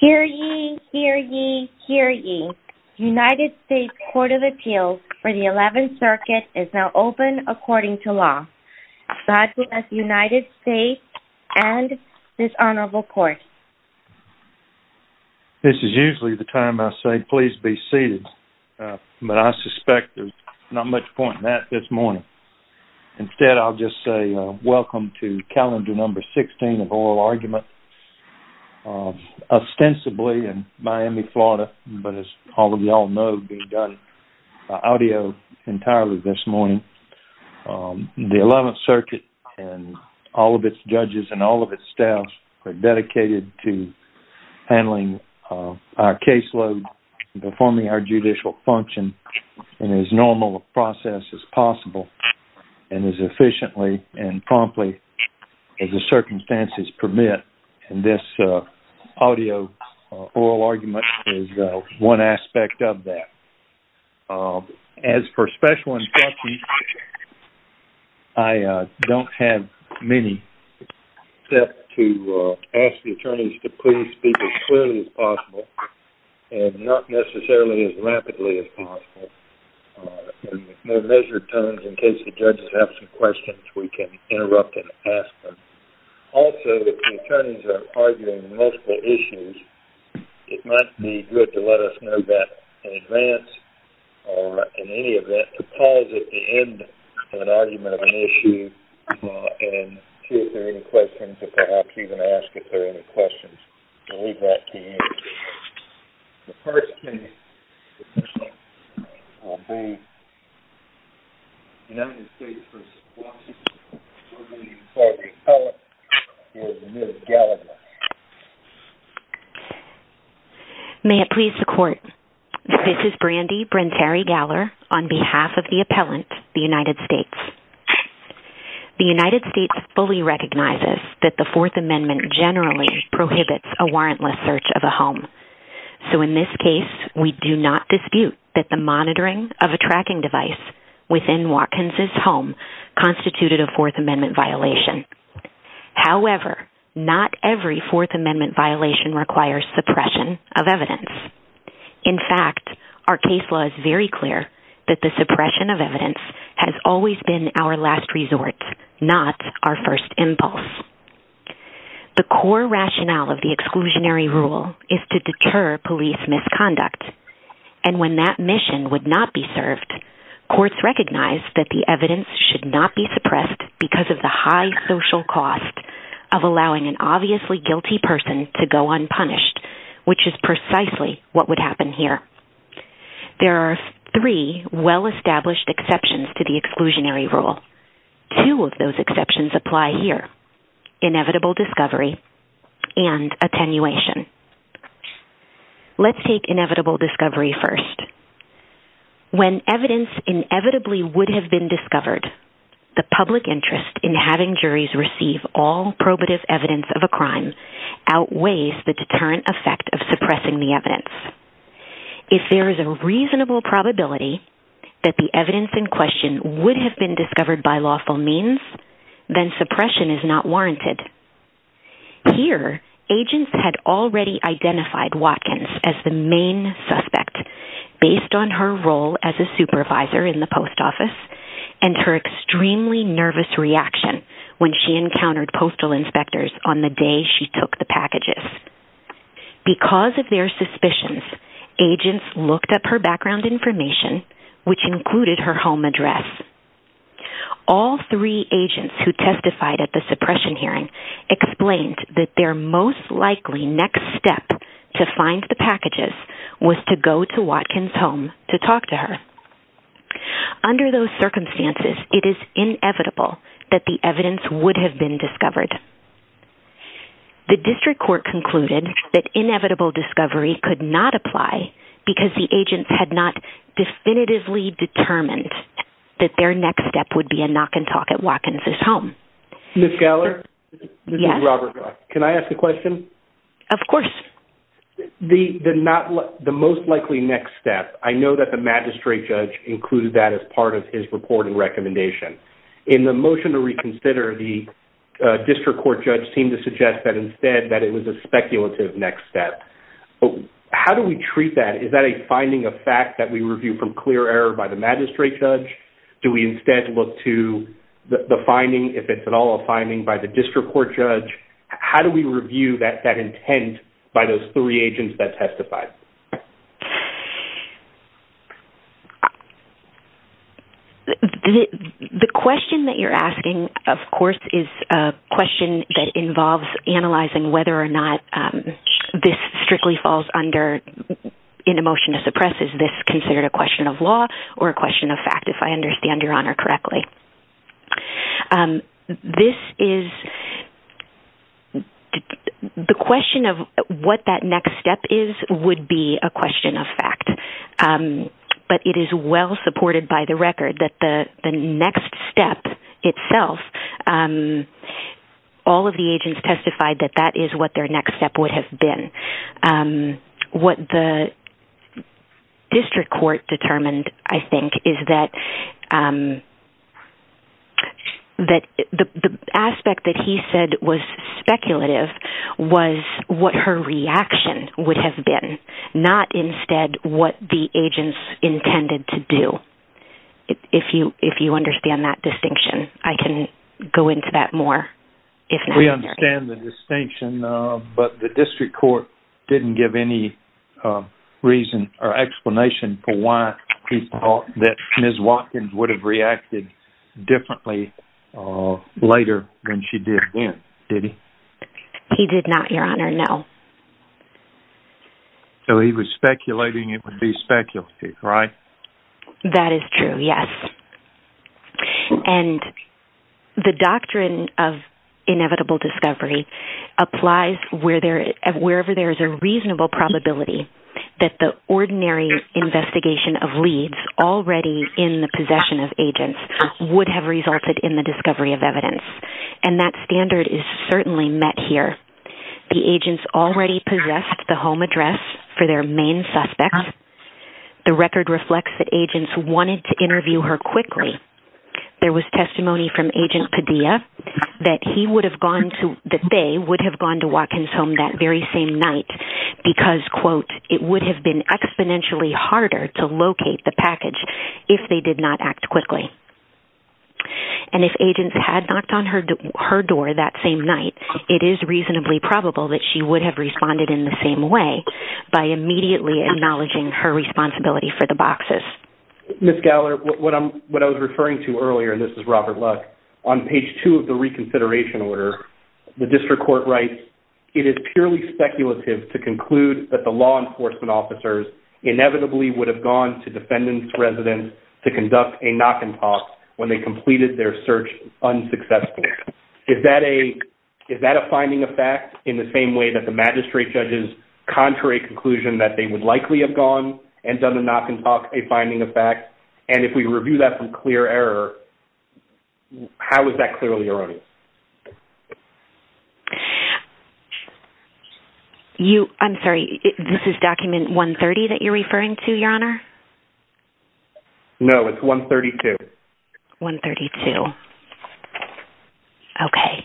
Hear ye, hear ye, hear ye, United States Court of Appeals for the 11th Circuit is now open according to law. God bless United States and this honorable court. This is usually the time I say please be seated, but I suspect there's not much point in that this morning. Instead, I'll just say welcome to calendar number 16 of oral argument, ostensibly in Miami, Florida, but as all of y'all know, being done by audio entirely this morning. The 11th Circuit and all of its judges and all of its staff are dedicated to handling our caseload, performing our judicial function in as normal a process as possible and as efficiently and promptly as the circumstances permit, and this audio oral argument is one aspect of that. As for special instructions, I don't have many, except to ask the attorneys to please speak as clearly as possible, and not necessarily as rapidly as possible, in measured tones in case the judges have some questions, we can interrupt and ask them. Also, if the attorneys are arguing multiple issues, it might be good to let us know that in advance, or in any event, to pause at the end of an argument of an issue and see if there are any questions, or perhaps even ask if there are any questions, and leave that to you. The first case will be United States v. Washington, where the appellant is Liz Gallagher. May it please the Court, this is Brandi Brentari-Gallagher on behalf of the appellant, the United States. The United States fully recognizes that the Fourth Amendment generally prohibits a warrantless search of a home, so in this case, we do not dispute that the monitoring of a tracking device within Watkins' home constituted a Fourth Amendment violation. However, not every Fourth Amendment violation requires suppression of evidence. In fact, our case law is very clear that the suppression of evidence has always been our last resort, not our first impulse. The core rationale of the exclusionary rule is to deter police misconduct, and when that mission would not be served, courts recognize that the evidence should not be suppressed because of the high social cost of allowing an obviously guilty person to go unpunished, which is precisely what would happen here. There are three well-established exceptions to the exclusionary rule. Two of those exceptions apply here, inevitable discovery and attenuation. Let's take inevitable discovery first. When evidence inevitably would have been discovered, the public interest in having juries receive all probative evidence of a crime outweighs the deterrent effect of suppressing the evidence. If there is a reasonable probability that the evidence in question would have been discovered by lawful means, then suppression is not warranted. Here, agents had already identified Watkins as the main suspect based on her role as a supervisor in the post office and her extremely nervous reaction when she encountered postal inspectors on the day she took the packages. Because of their suspicions, agents looked up her background information, which included her home address. All three agents who testified at the suppression hearing explained that their most likely next step to find the packages was to go to Watkins' home to talk to her. Under those circumstances, it is inevitable that the evidence would have been discovered. The district court concluded that inevitable discovery could not apply because the agents had not definitively determined that their next step would be a knock and talk at Watkins' home. Ms. Geller, this is Robert. Can I ask a question? Of course. The most likely next step, I know that the magistrate judge included that as part of his reporting recommendation. In the motion to reconsider, the district court judge seemed to suggest that instead that it was a speculative next step. How do we treat that? Is that a finding of fact that we review from clear error by the magistrate judge? Do we instead look to the finding, if it's at all a finding, by the district court judge? How do we review that intent by those three agents that testified? The question that you're asking, of course, is a question that involves analyzing whether or not this strictly falls under an emotion to suppress. Is this considered a question of law or a question of fact, if I understand your honor correctly? Okay. The question of what that next step is would be a question of fact, but it is well supported by the record that the next step itself, all of the agents testified that that is what their next step would have been. What the district court determined, I think, is that the aspect that he said was speculative was what her reaction would have been, not instead what the agents intended to do, if you understand that distinction. I can go into that more, if necessary. We understand the distinction, but the Ms. Watkins would have reacted differently later than she did then, did he? He did not, your honor, no. He was speculating it would be speculative, right? That is true, yes. The doctrine of inevitable discovery applies wherever there is a reasonable probability that the ordinary investigation of leads already in the possession of agents would have resulted in the discovery of evidence, and that standard is certainly met here. The agents already possessed the home address for their main suspect. The record reflects that agents wanted to interview her quickly. There was testimony from Agent Padilla that they would have gone to Watkins' home that very same night because, quote, it would have been exponentially harder to locate the package if they did not act quickly. And if agents had knocked on her door that same night, it is reasonably probable that she would have responded in the same way by immediately acknowledging her responsibility for the boxes. Ms. Gowler, what I was referring to earlier, and this is Robert Luck, on page two of the reconsideration order, the district court writes, it is purely speculative to conclude that the law enforcement officers inevitably would have gone to defendant's residence to conduct a knock and talk when they completed their search unsuccessfully. Is that a finding of fact in the same way that the magistrate judges contrary conclusion that they would likely have gone and done a knock and talk a finding of fact? And if we review that from clear error, how is that clearly erroneous? I'm sorry, this is document 130 that you're referring to, Your Honor? No, it's 132. 132. Okay.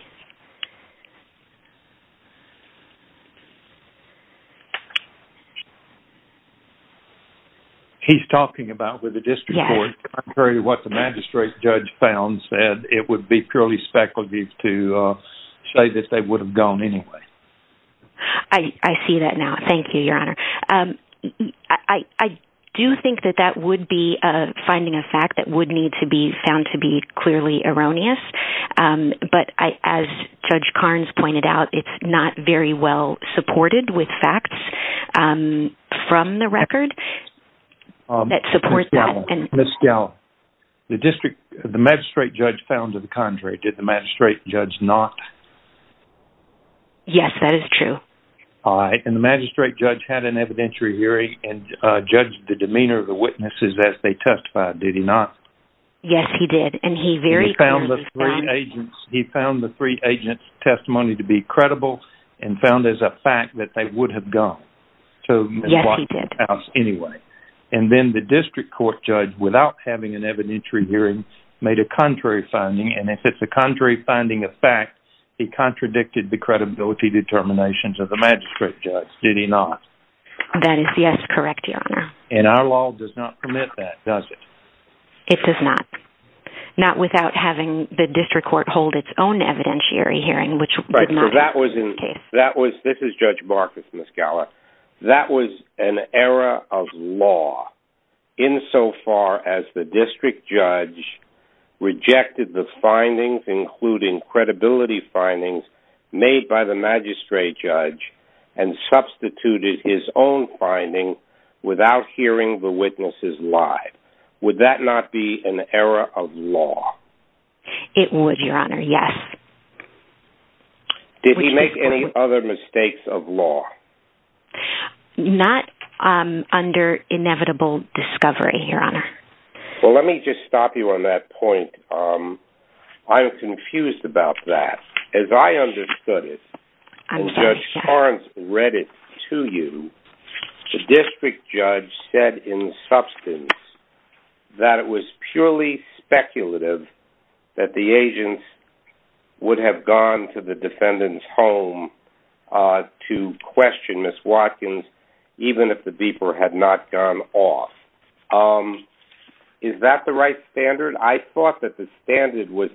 He's talking about with the district court, contrary to what the magistrate judge found, said it would be purely speculative to say that they would have gone anyway. I see that now. Thank you, Your Honor. I do think that that would be a finding of fact that would found to be clearly erroneous. But as Judge Karnes pointed out, it's not very well supported with facts from the record that support that. Ms. Gallo, the magistrate judge found to the contrary. Did the magistrate judge not? Yes, that is true. All right. And the magistrate judge had an evidentiary hearing and judged the demeanor of the witnesses that they testified. Did he not? Yes, he did. He found the three agents' testimony to be credible and found as a fact that they would have gone. Yes, he did. And then the district court judge, without having an evidentiary hearing, made a contrary finding. And if it's a contrary finding of fact, he contradicted the credibility determinations of the magistrate judge. Did he not? That is, yes, correct, Your Honor. And our law does not permit that, does it? It does not. Not without having the district court hold its own evidentiary hearing, which did not in this case. Right, so that was, this is Judge Marcus, Ms. Gallo. That was an error of law insofar as the district judge rejected the findings, including credibility findings made by the magistrate judge, and substituted his own Would that not be an error of law? It would, Your Honor, yes. Did he make any other mistakes of law? Not under inevitable discovery, Your Honor. Well, let me just stop you on that point. I'm confused about that. As I understood it, Judge Torrance read it to you. The district judge said in substance that it was purely speculative that the agents would have gone to the defendant's home to question Ms. Watkins, even if the beeper had not gone off. Is that the right standard? I thought that the standard was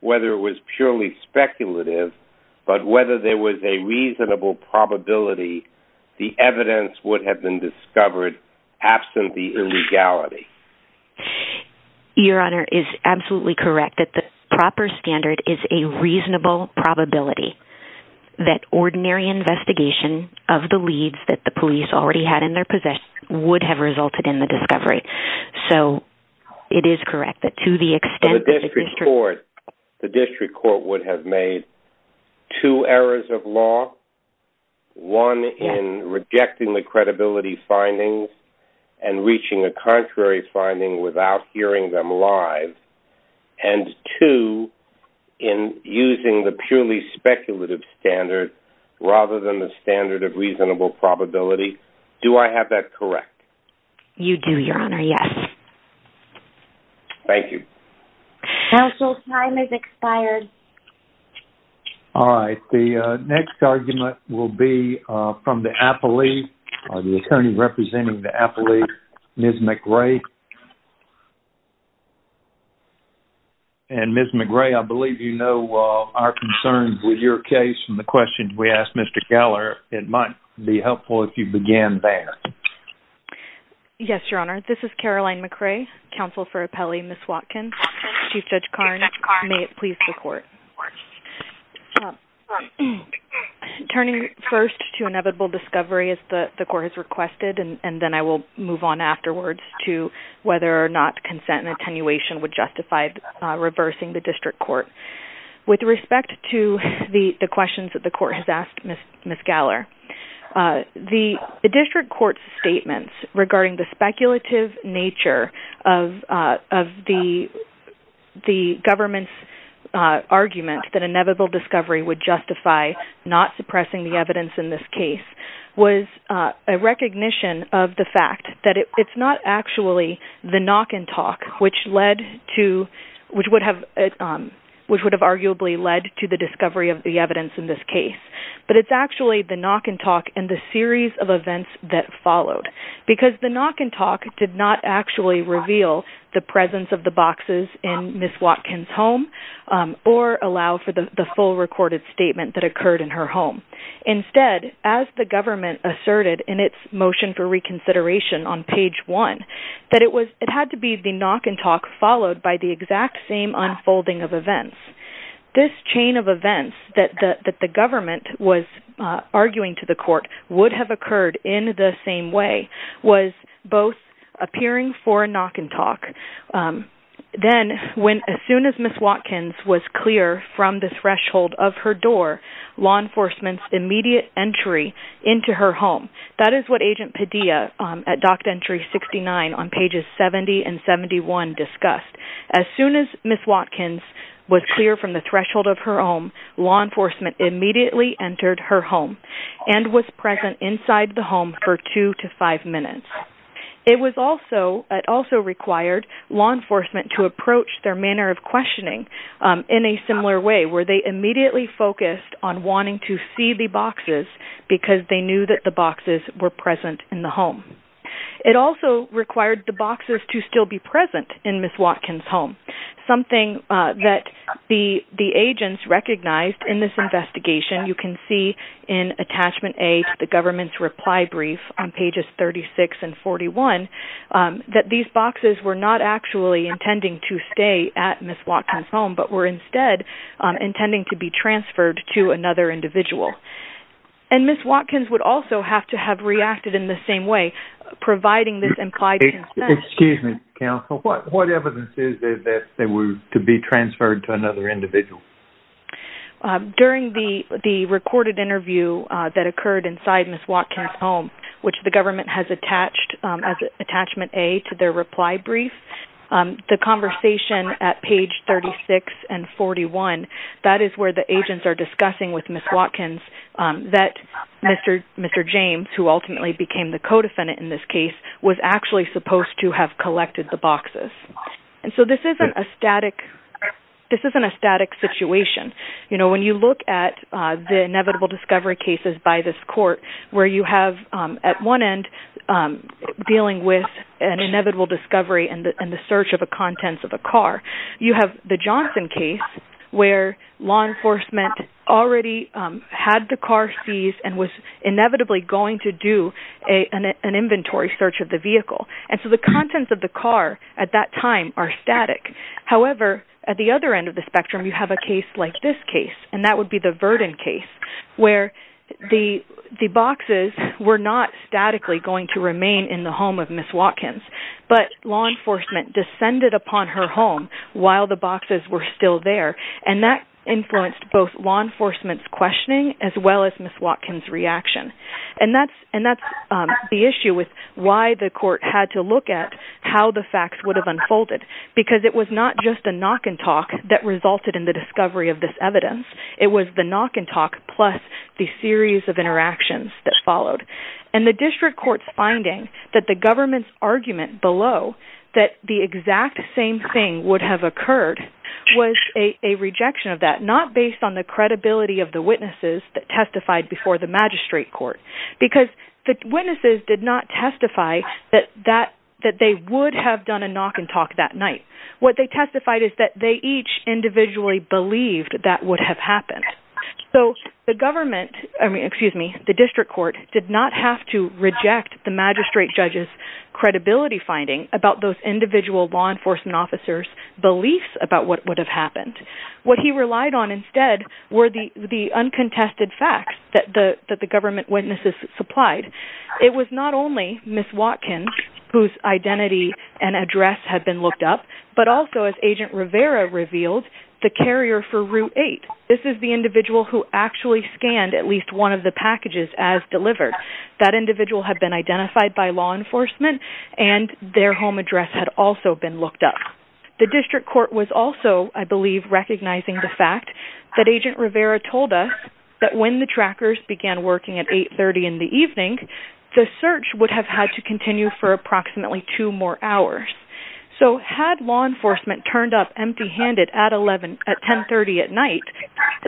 whether it was purely speculative, but whether there was a reasonable probability the evidence would have been discovered absent the illegality. Your Honor is absolutely correct that the proper standard is a reasonable probability that ordinary investigation of the leads that the police already had in their possession would have resulted in the discovery. So it is correct that to the extent that the district court would have made two errors of law, one in rejecting the credibility findings and reaching a contrary finding without hearing them live, and two in using the purely speculative standard rather than the standard of reasonable probability, do I have that correct? You do, Your Honor, yes. Thank you. Counsel, time has expired. All right. The next argument will be from the appellee, the attorney representing the appellee, Ms. McRae. And Ms. McRae, I believe you know our concerns with your case and the questions we asked Mr. Geller. It might be helpful if you begin there. Yes, Your Honor. This is Caroline McRae, counsel for appellee Ms. Watkins, Chief Judge Karnes. May it please the court. Turning first to inevitable discovery, as the court has requested, and then I will move on to whether or not consent and attenuation would justify reversing the district court. With respect to the questions that the court has asked Ms. Geller, the district court's statements regarding the speculative nature of the government's argument that inevitable discovery would justify not suppressing the evidence in this case was a recognition of the actually the knock and talk which would have arguably led to the discovery of the evidence in this case. But it's actually the knock and talk and the series of events that followed. Because the knock and talk did not actually reveal the presence of the boxes in Ms. Watkins' home or allow for the full recorded statement that occurred in her home. Instead, as the government asserted in its motion for reconsideration on page one, that it had to be the knock and talk followed by the exact same unfolding of events. This chain of events that the government was arguing to the court would have occurred in the same way was both appearing for a knock and talk. Then, as soon as Ms. Watkins was clear from the threshold of her door, law enforcement's immediate entry into her home. That is what Agent Padilla at Doctrine entry 69 on pages 70 and 71 discussed. As soon as Ms. Watkins was clear from the threshold of her home, law enforcement immediately entered her home and was present inside the home for two to five minutes. It also required law enforcement to immediately focus on wanting to see the boxes because they knew that the boxes were present in the home. It also required the boxes to still be present in Ms. Watkins' home. Something that the agents recognized in this investigation, you can see in attachment A to the government's reply brief on pages 36 and 41, that these boxes were not intending to stay at Ms. Watkins' home, but were instead intended to be transferred to another individual. Ms. Watkins would also have to have reacted in the same way, providing this implied consent. Excuse me, counsel. What evidence is there that they were to be transferred to another individual? During the recorded interview that occurred inside Ms. Watkins' home, which the government has attached as attachment A to their reply brief, the conversation at page 36 and 41, that is where the agents are discussing with Ms. Watkins that Mr. James, who ultimately became the co-defendant in this case, was actually supposed to have collected the boxes. This isn't a static situation. When you look at the inevitable discovery cases by this court, where you have at one end dealing with an inevitable discovery and the search of the contents of a car, you have the Johnson case, where law enforcement already had the car seized and was inevitably going to do an inventory search of the vehicle. The contents of the car at that time are static. However, at the other end of the spectrum, you have a case like this case, and that would be the Verdon case, where the boxes were not statically going to remain in the home of Ms. Watkins, but law enforcement descended upon her home while the boxes were still there. That influenced both law enforcement's questioning as well as Ms. Watkins' reaction. That's the issue with why the court had to look at how the facts would have unfolded, because it was not just a knock-and-talk that resulted in the discovery of this evidence. It was the knock-and-talk plus the series of interactions that followed, and the district court's finding that the government's argument below that the exact same thing would have occurred was a rejection of that, not based on the credibility of the witnesses that testified before the magistrate court, because the witnesses did not testify that they would have done a knock-and-talk that night. What they testified is that they each individually believed that would have happened. So the district court did not have to reject the magistrate judge's credibility finding about those individual law enforcement officers' beliefs about what would have happened. What he relied on instead were the uncontested facts that the government witnesses supplied. It was not only Ms. Watkins whose identity and address had been looked up, but also, as Agent Rivera revealed, the carrier for Route 8. This is the individual who actually scanned at least one of the packages as delivered. That individual had been identified by law enforcement, and their home address had also been looked up. The district court was also, I believe, recognizing the fact that Agent Rivera told us that when the trackers began working at 8.30 in the evening, the search would have had to continue for approximately two more hours. So had law enforcement turned up empty-handed at 10.30 at night,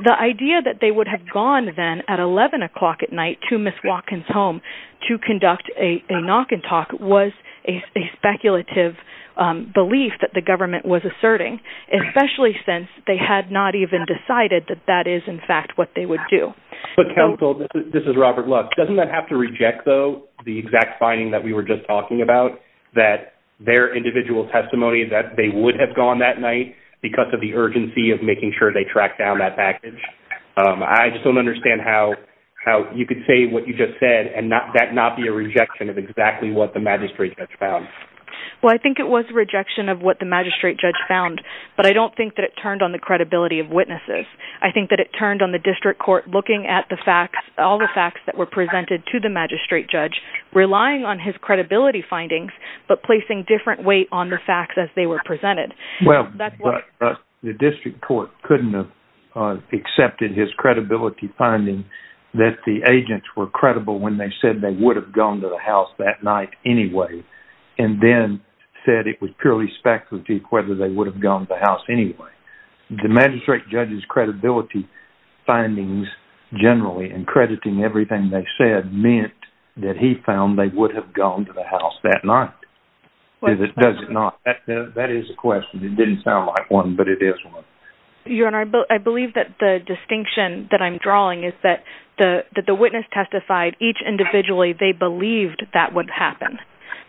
the idea that they would have gone then at 11 o'clock at night to Ms. Watkins' home to conduct a knock-and-talk was a speculative belief that the government was asserting, especially since they had not even decided that that is, in fact, what they would do. But Counsel, this is Robert Love. Doesn't that have to reject, though, the exact finding that we were just talking about, that their individual testimony that they would have gone that night because of the urgency of making sure they tracked down that package? I just don't understand how you could say what you just said and that not be a rejection of exactly what the magistrate judge found. Well, I think it was a rejection of what the magistrate judge found, but I don't think that it turned on the credibility of witnesses. I think that it turned on the district court looking at all the facts that were presented to the magistrate judge, relying on his credibility findings, but placing different weight on the facts as they were presented. Well, but the district court couldn't have accepted his credibility finding that the agents were credible when they said they would have gone to the house that night anyway and then said it was purely speculative whether they would have gone to the house anyway. The magistrate judge's credibility findings generally and crediting everything they said meant that he found they would have gone to the house that night. Does it not? That is a question. It didn't sound like one, but it is one. Your Honor, I believe that the distinction that I'm drawing is that the witness testified each individually they believed that would happen,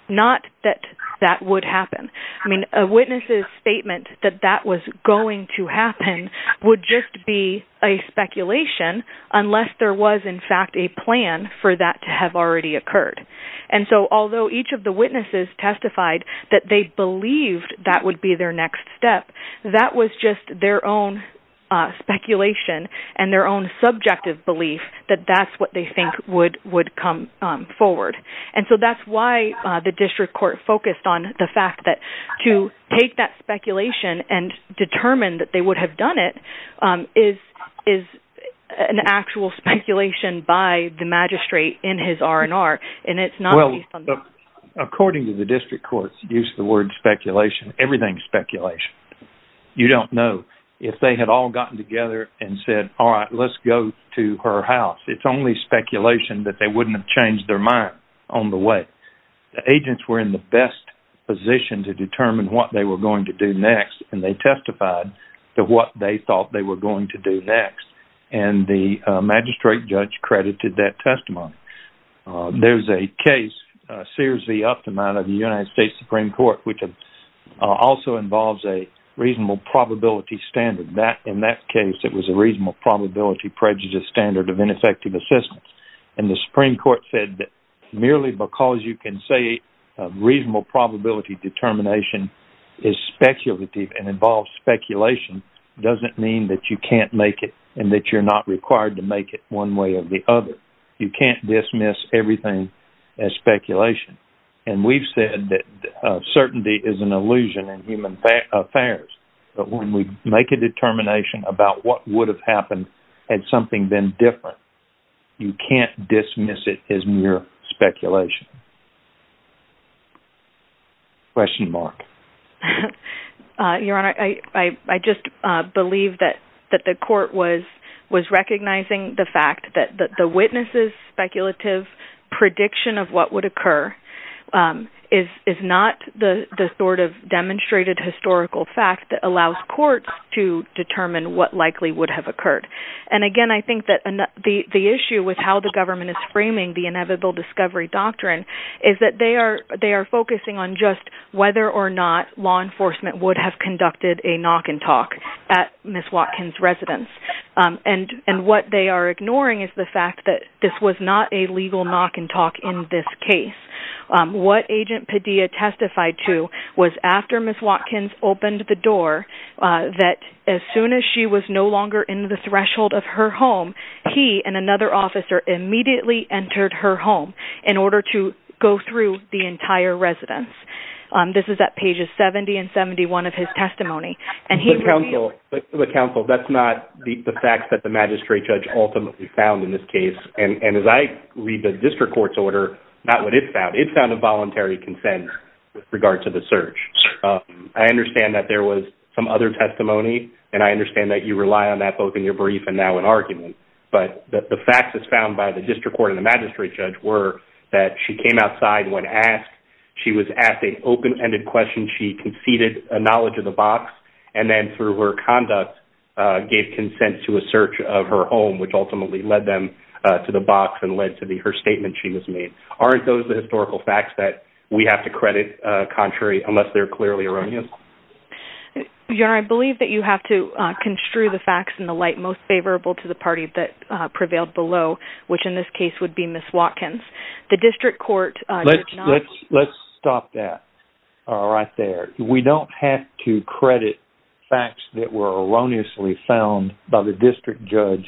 not that that would happen. I mean, a witness's statement that that was going to happen would just be a speculation unless there was in fact a plan for that to have already occurred. And so although each of the witnesses testified that they believed that would be their next step, that was just their own speculation and their own subjective belief that that's what they think would come forward. And so that's why the district court focused on the fact that to take that speculation and determine that they would have done it is an actual speculation by the magistrate in his R&R and it's not based on that. According to the district court's use of the word speculation, everything's speculation. You don't know if they had all gotten together and said, all right, let's go to her house. It's only speculation that they wouldn't have changed their mind on the way. The agents were in the best position to determine what they were going to do next and they testified to what they thought they were going to do next. And the magistrate judge credited that testimony. There's a case, Sears v. Optima of the United States Supreme Court, which also involves a reasonable probability standard. In that case, it was a reasonable probability prejudice standard of ineffective assistance. And the Supreme Court said that merely because you can say a reasonable probability determination is speculative and involves speculation doesn't mean that you can't make it and that you're not required to make it one way or the other. You can't dismiss everything as speculation. And we've said that certainty is an illusion in human affairs, but when we make a determination about what would have happened had something been different, you can't dismiss it as mere speculation. Question, Mark. Your Honor, I just believe that the court was recognizing the fact that the witness's prediction of what would occur is not the sort of demonstrated historical fact that allows courts to determine what likely would have occurred. And again, I think that the issue with how the government is framing the inevitable discovery doctrine is that they are focusing on just whether or not law enforcement would have conducted a knock and talk at Ms. Watkins' residence. And what they are ignoring is the fact that this was not a legal knock and talk in this case. What Agent Padilla testified to was after Ms. Watkins opened the door that as soon as she was no longer in the threshold of her home, he and another officer immediately entered her home in order to go through the entire residence. This is at pages 70 and 71 of his testimony. But counsel, that's not the facts that the magistrate judge ultimately found in this case. And as I read the district court's order, not what it found. It found a voluntary consent with regard to the search. I understand that there was some other testimony, and I understand that you rely on that both in your brief and now in argument. But the facts as found by the district court and the magistrate judge were that she came outside when asked, she was asked an open-ended question, she conceded a knowledge of the box, and then through her conduct gave consent to a search of her home, which ultimately led them to the box and led to her statement she was made. Aren't those the historical facts that we have to credit contrary, unless they're clearly erroneous? I believe that you have to construe the facts in the light most favorable to the party that prevailed below, which in this case would be Ms. Watkins. The district court... Let's stop that right there. We don't have to credit facts that were erroneously found by the district judge,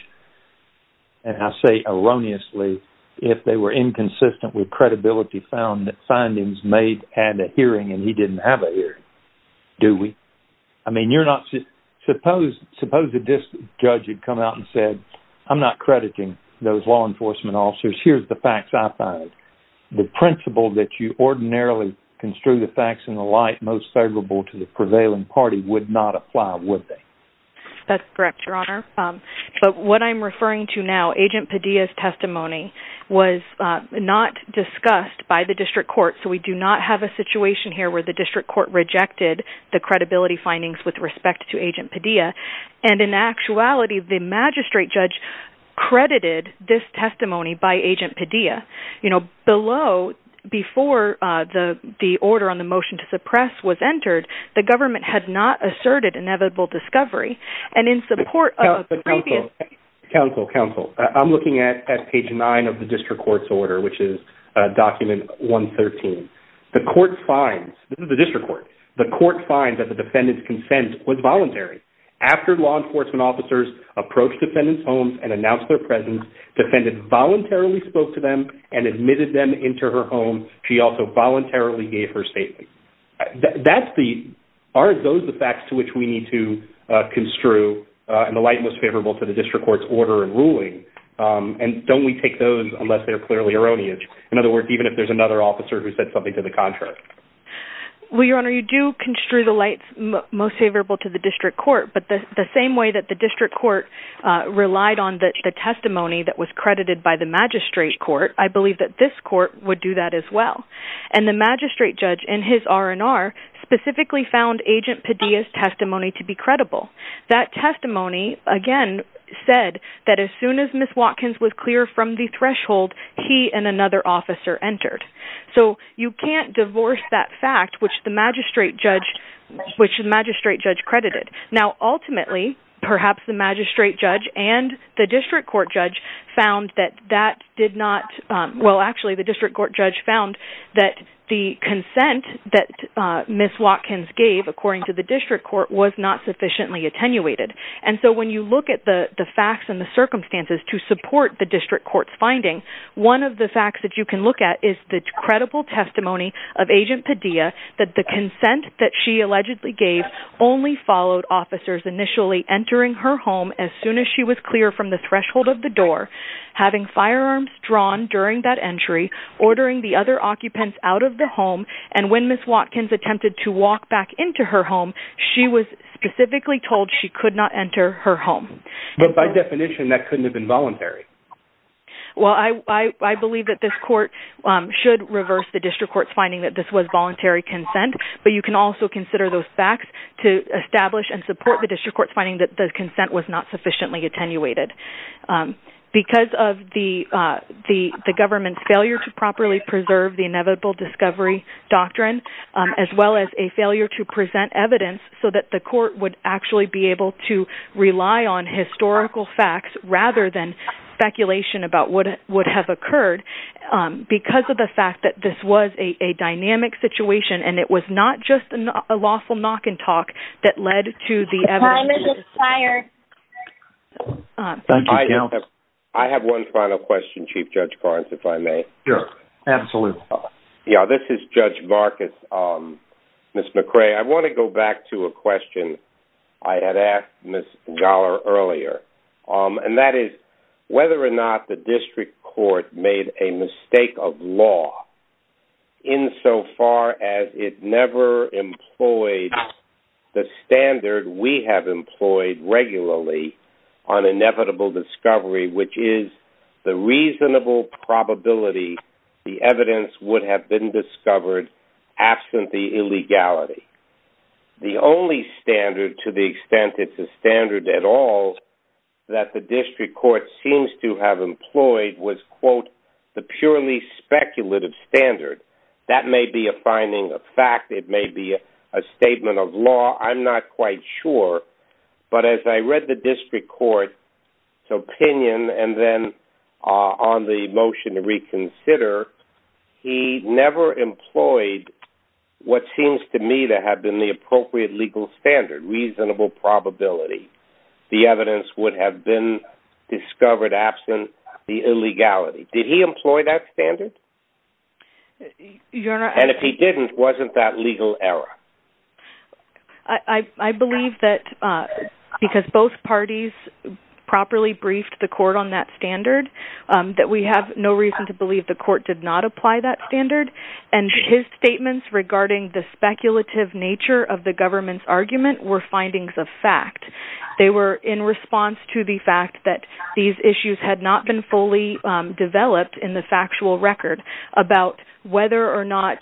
and I say erroneously, if they were inconsistent with credibility found that findings made at a hearing and he didn't have a hearing. Do we? I mean, you're not... Suppose the district judge had come out and said, I'm not crediting those law enforcement officers, here's the facts I found. The principle that you ordinarily construe the facts in the light most favorable to the prevailing party would not apply, would they? That's correct, Your Honor. But what I'm referring to now, Agent Padilla's testimony, was not discussed by the district court, so we do not have a situation here where the district court rejected the credibility findings with respect to Agent Padilla. And in actuality, the magistrate judge credited this testimony by Agent Padilla. Below, before the order on the motion to suppress was entered, the government had not asserted inevitable discovery, and in support... Counsel, counsel, I'm looking at page nine of the district court's order, which is document 113. The court finds, this is the district court, the court finds that the defendant's approached defendant's home and announced their presence. Defendant voluntarily spoke to them and admitted them into her home. She also voluntarily gave her statement. That's the... Aren't those the facts to which we need to construe in the light most favorable to the district court's order and ruling? And don't we take those unless they're clearly erroneous? In other words, even if there's another officer who said something to the contrary. Well, Your Honor, you do construe the lights most favorable to the district court, but the same way that the district court relied on the testimony that was credited by the magistrate court, I believe that this court would do that as well. And the magistrate judge in his R&R specifically found Agent Padilla's testimony to be credible. That testimony, again, said that as soon as Ms. Watkins was clear from the threshold, he and another officer entered. So you can't perhaps the magistrate judge and the district court judge found that that did not... Well, actually, the district court judge found that the consent that Ms. Watkins gave, according to the district court, was not sufficiently attenuated. And so when you look at the facts and the circumstances to support the district court's finding, one of the facts that you can look at is the credible testimony of Agent Padilla that the consent that she allegedly gave only followed officers initially entering her home as soon as she was clear from the threshold of the door, having firearms drawn during that entry, ordering the other occupants out of the home, and when Ms. Watkins attempted to walk back into her home, she was specifically told she could not enter her home. But by definition, that couldn't have been voluntary. Well, I believe that this court should reverse the district court's finding that this was the district court's finding that the consent was not sufficiently attenuated. Because of the government's failure to properly preserve the inevitable discovery doctrine, as well as a failure to present evidence so that the court would actually be able to rely on historical facts rather than speculation about what would have occurred, because of the fact that this was a dynamic situation and it was not just a lawful knock and talk that led to the evidence. I have one final question, Chief Judge Barnes, if I may. Sure, absolutely. Yeah, this is Judge Marcus. Ms. McRae, I want to go back to a question I had asked Ms. Dollar earlier, and that is whether or not the district court made a mistake of law insofar as it never employed the standard we have employed regularly on inevitable discovery, which is the reasonable probability the evidence would have been discovered absent the illegality. The only standard, to the extent it's a standard at all, that the district court seems to have That may be a finding of fact. It may be a statement of law. I'm not quite sure. But as I read the district court's opinion, and then on the motion to reconsider, he never employed what seems to me to have been the appropriate legal standard, reasonable probability the evidence would have been discovered absent the illegality. Did he employ that standard? And if he didn't, wasn't that legal error? I believe that because both parties properly briefed the court on that standard, that we have no reason to believe the court did not apply that standard. And his statements regarding the speculative nature of the government's argument were findings of fact. They were in response to the fact that these issues had not been fully developed in the factual record about whether or not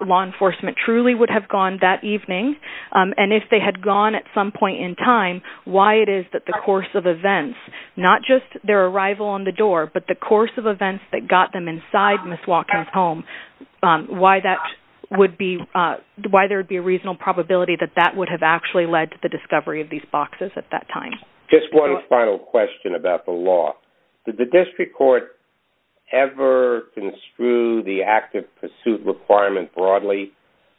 law enforcement truly would have gone that evening, and if they had gone at some point in time, why it is that the course of events, not just their arrival on the door, but the course of events that got them inside Ms. Watkins' home, why that would be, why there would be a reasonable probability that that would have actually led to the discovery of these boxes at that time. Just one final question about the law. Did the district court ever construe the active pursuit requirement broadly,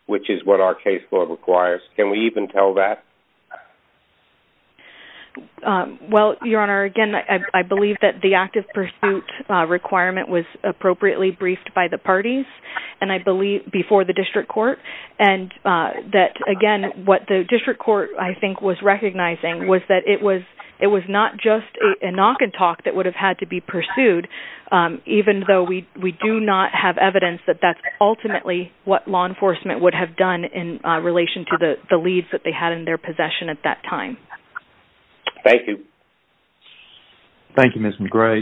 which is what our case law requires? Can we even tell that? Well, Your Honor, again, I believe that the active pursuit requirement was appropriately briefed by the parties, and I believe before the district court, and that, again, what the district court, I think, was recognizing was that it was not just a knock and talk that would have had to be pursued, even though we do not have evidence that that's ultimately what law enforcement would have done in relation to the leads that they had in their possession at that time. Thank you. Thank you, Ms. McGray.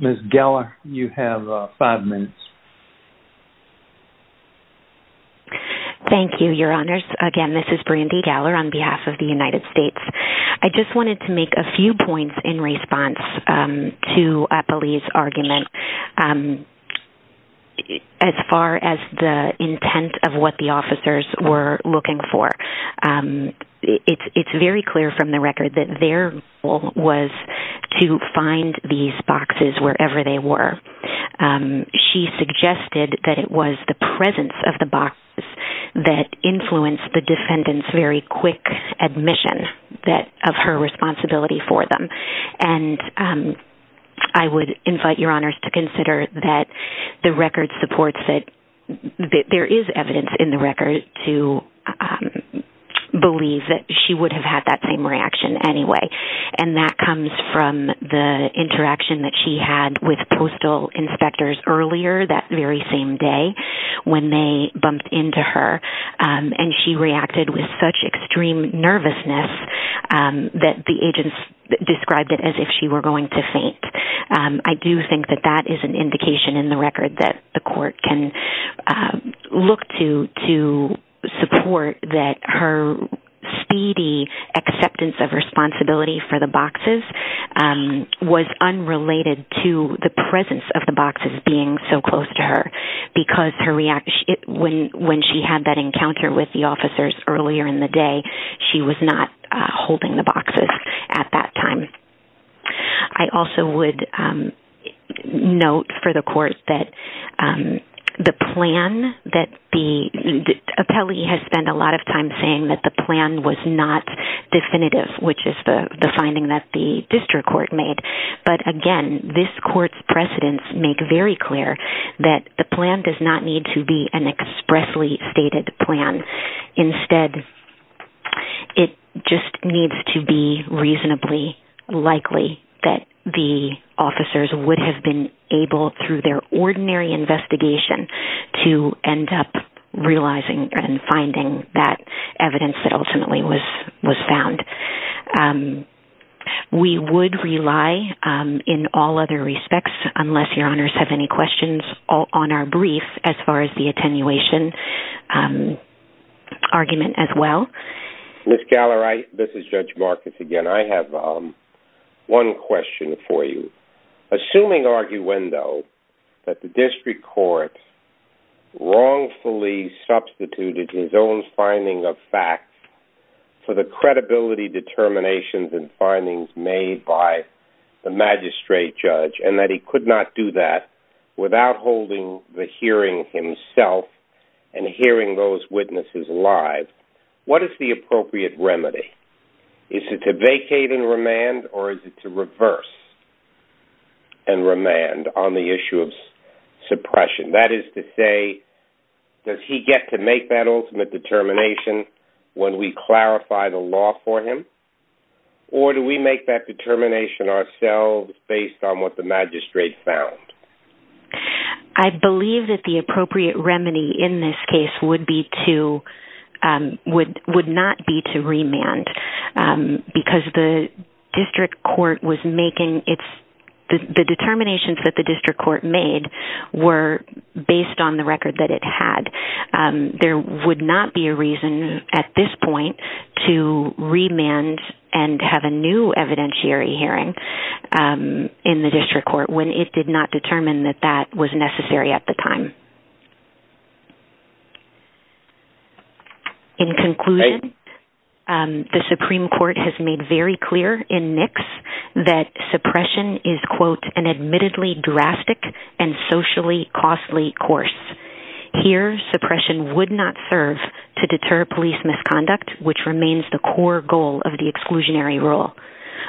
Ms. Geller, you have five minutes. Thank you, Your Honors. Again, this is Brandy Geller on behalf of the United States. I just wanted to make a few points in response to Apolli's argument as far as the intent of what the officers were looking for. It's very clear from the record that their goal was to find these boxes wherever they were. She suggested that it was the presence of the box that influenced the defendant's very quick admission of her responsibility for them, and I would invite Your Honors to consider that the record supports that there is evidence in the record to believe that she would have had that same reaction anyway, and that comes from the interaction that she had with postal inspectors earlier that very same day when they bumped into her, and she reacted with such extreme nervousness that the agents described it as if she were going to faint. I do think that that is an indication in the record that the court can look to support that her speedy acceptance of responsibility for the boxes was unrelated to the presence of the boxes being so close to her because when she had that encounter with the officers earlier in the day, she was not holding the boxes at that time. I also would note for the court that the plan that the appellee has spent a lot of time saying that the plan was not definitive, which is the finding that the district court made, but again, this court's precedents make very clear that the plan does not need to be an expressly stated plan. Instead, it just needs to be reasonably likely that the officers would have been able through their ordinary investigation to end up realizing and finding that evidence that ultimately was found. We would rely in all other respects, unless your honors have any questions on our brief as far as attenuation argument as well. Ms. Galler, this is Judge Marcus again. I have one question for you. Assuming arguendo that the district court wrongfully substituted his own finding of facts for the credibility determinations and findings made by the magistrate judge and that he could not do that without holding the hearing himself and hearing those witnesses live, what is the appropriate remedy? Is it to vacate and remand or is it to reverse and remand on the issue of suppression? That is to say, does he get to make that ultimate determination when we clarify the law for him? Or do we make that determination ourselves based on what the magistrate found? I believe that the appropriate remedy in this case would not be to remand because the determination that the district court made were based on the record that it had. There would not be a reason at this point to remand and have a new evidentiary hearing in the district court when it did not determine that that was necessary at the time. In conclusion, the Supreme Court has made very clear in NICS that suppression is, quote, an admittedly drastic and socially costly course. Here, suppression would not serve to deter police misconduct, which remains the core goal of the exclusionary rule.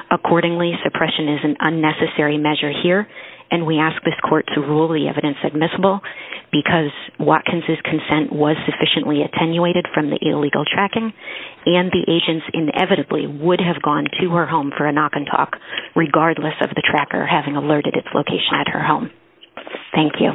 Accordingly, suppression is an unnecessary measure here and we ask this court to rule the evidence admissible because Watkins' consent was sufficiently attenuated from the illegal tracking and the agents inevitably would have gone to her home for a knock and talk regardless of the tracker having alerted its location at her home. Thank you.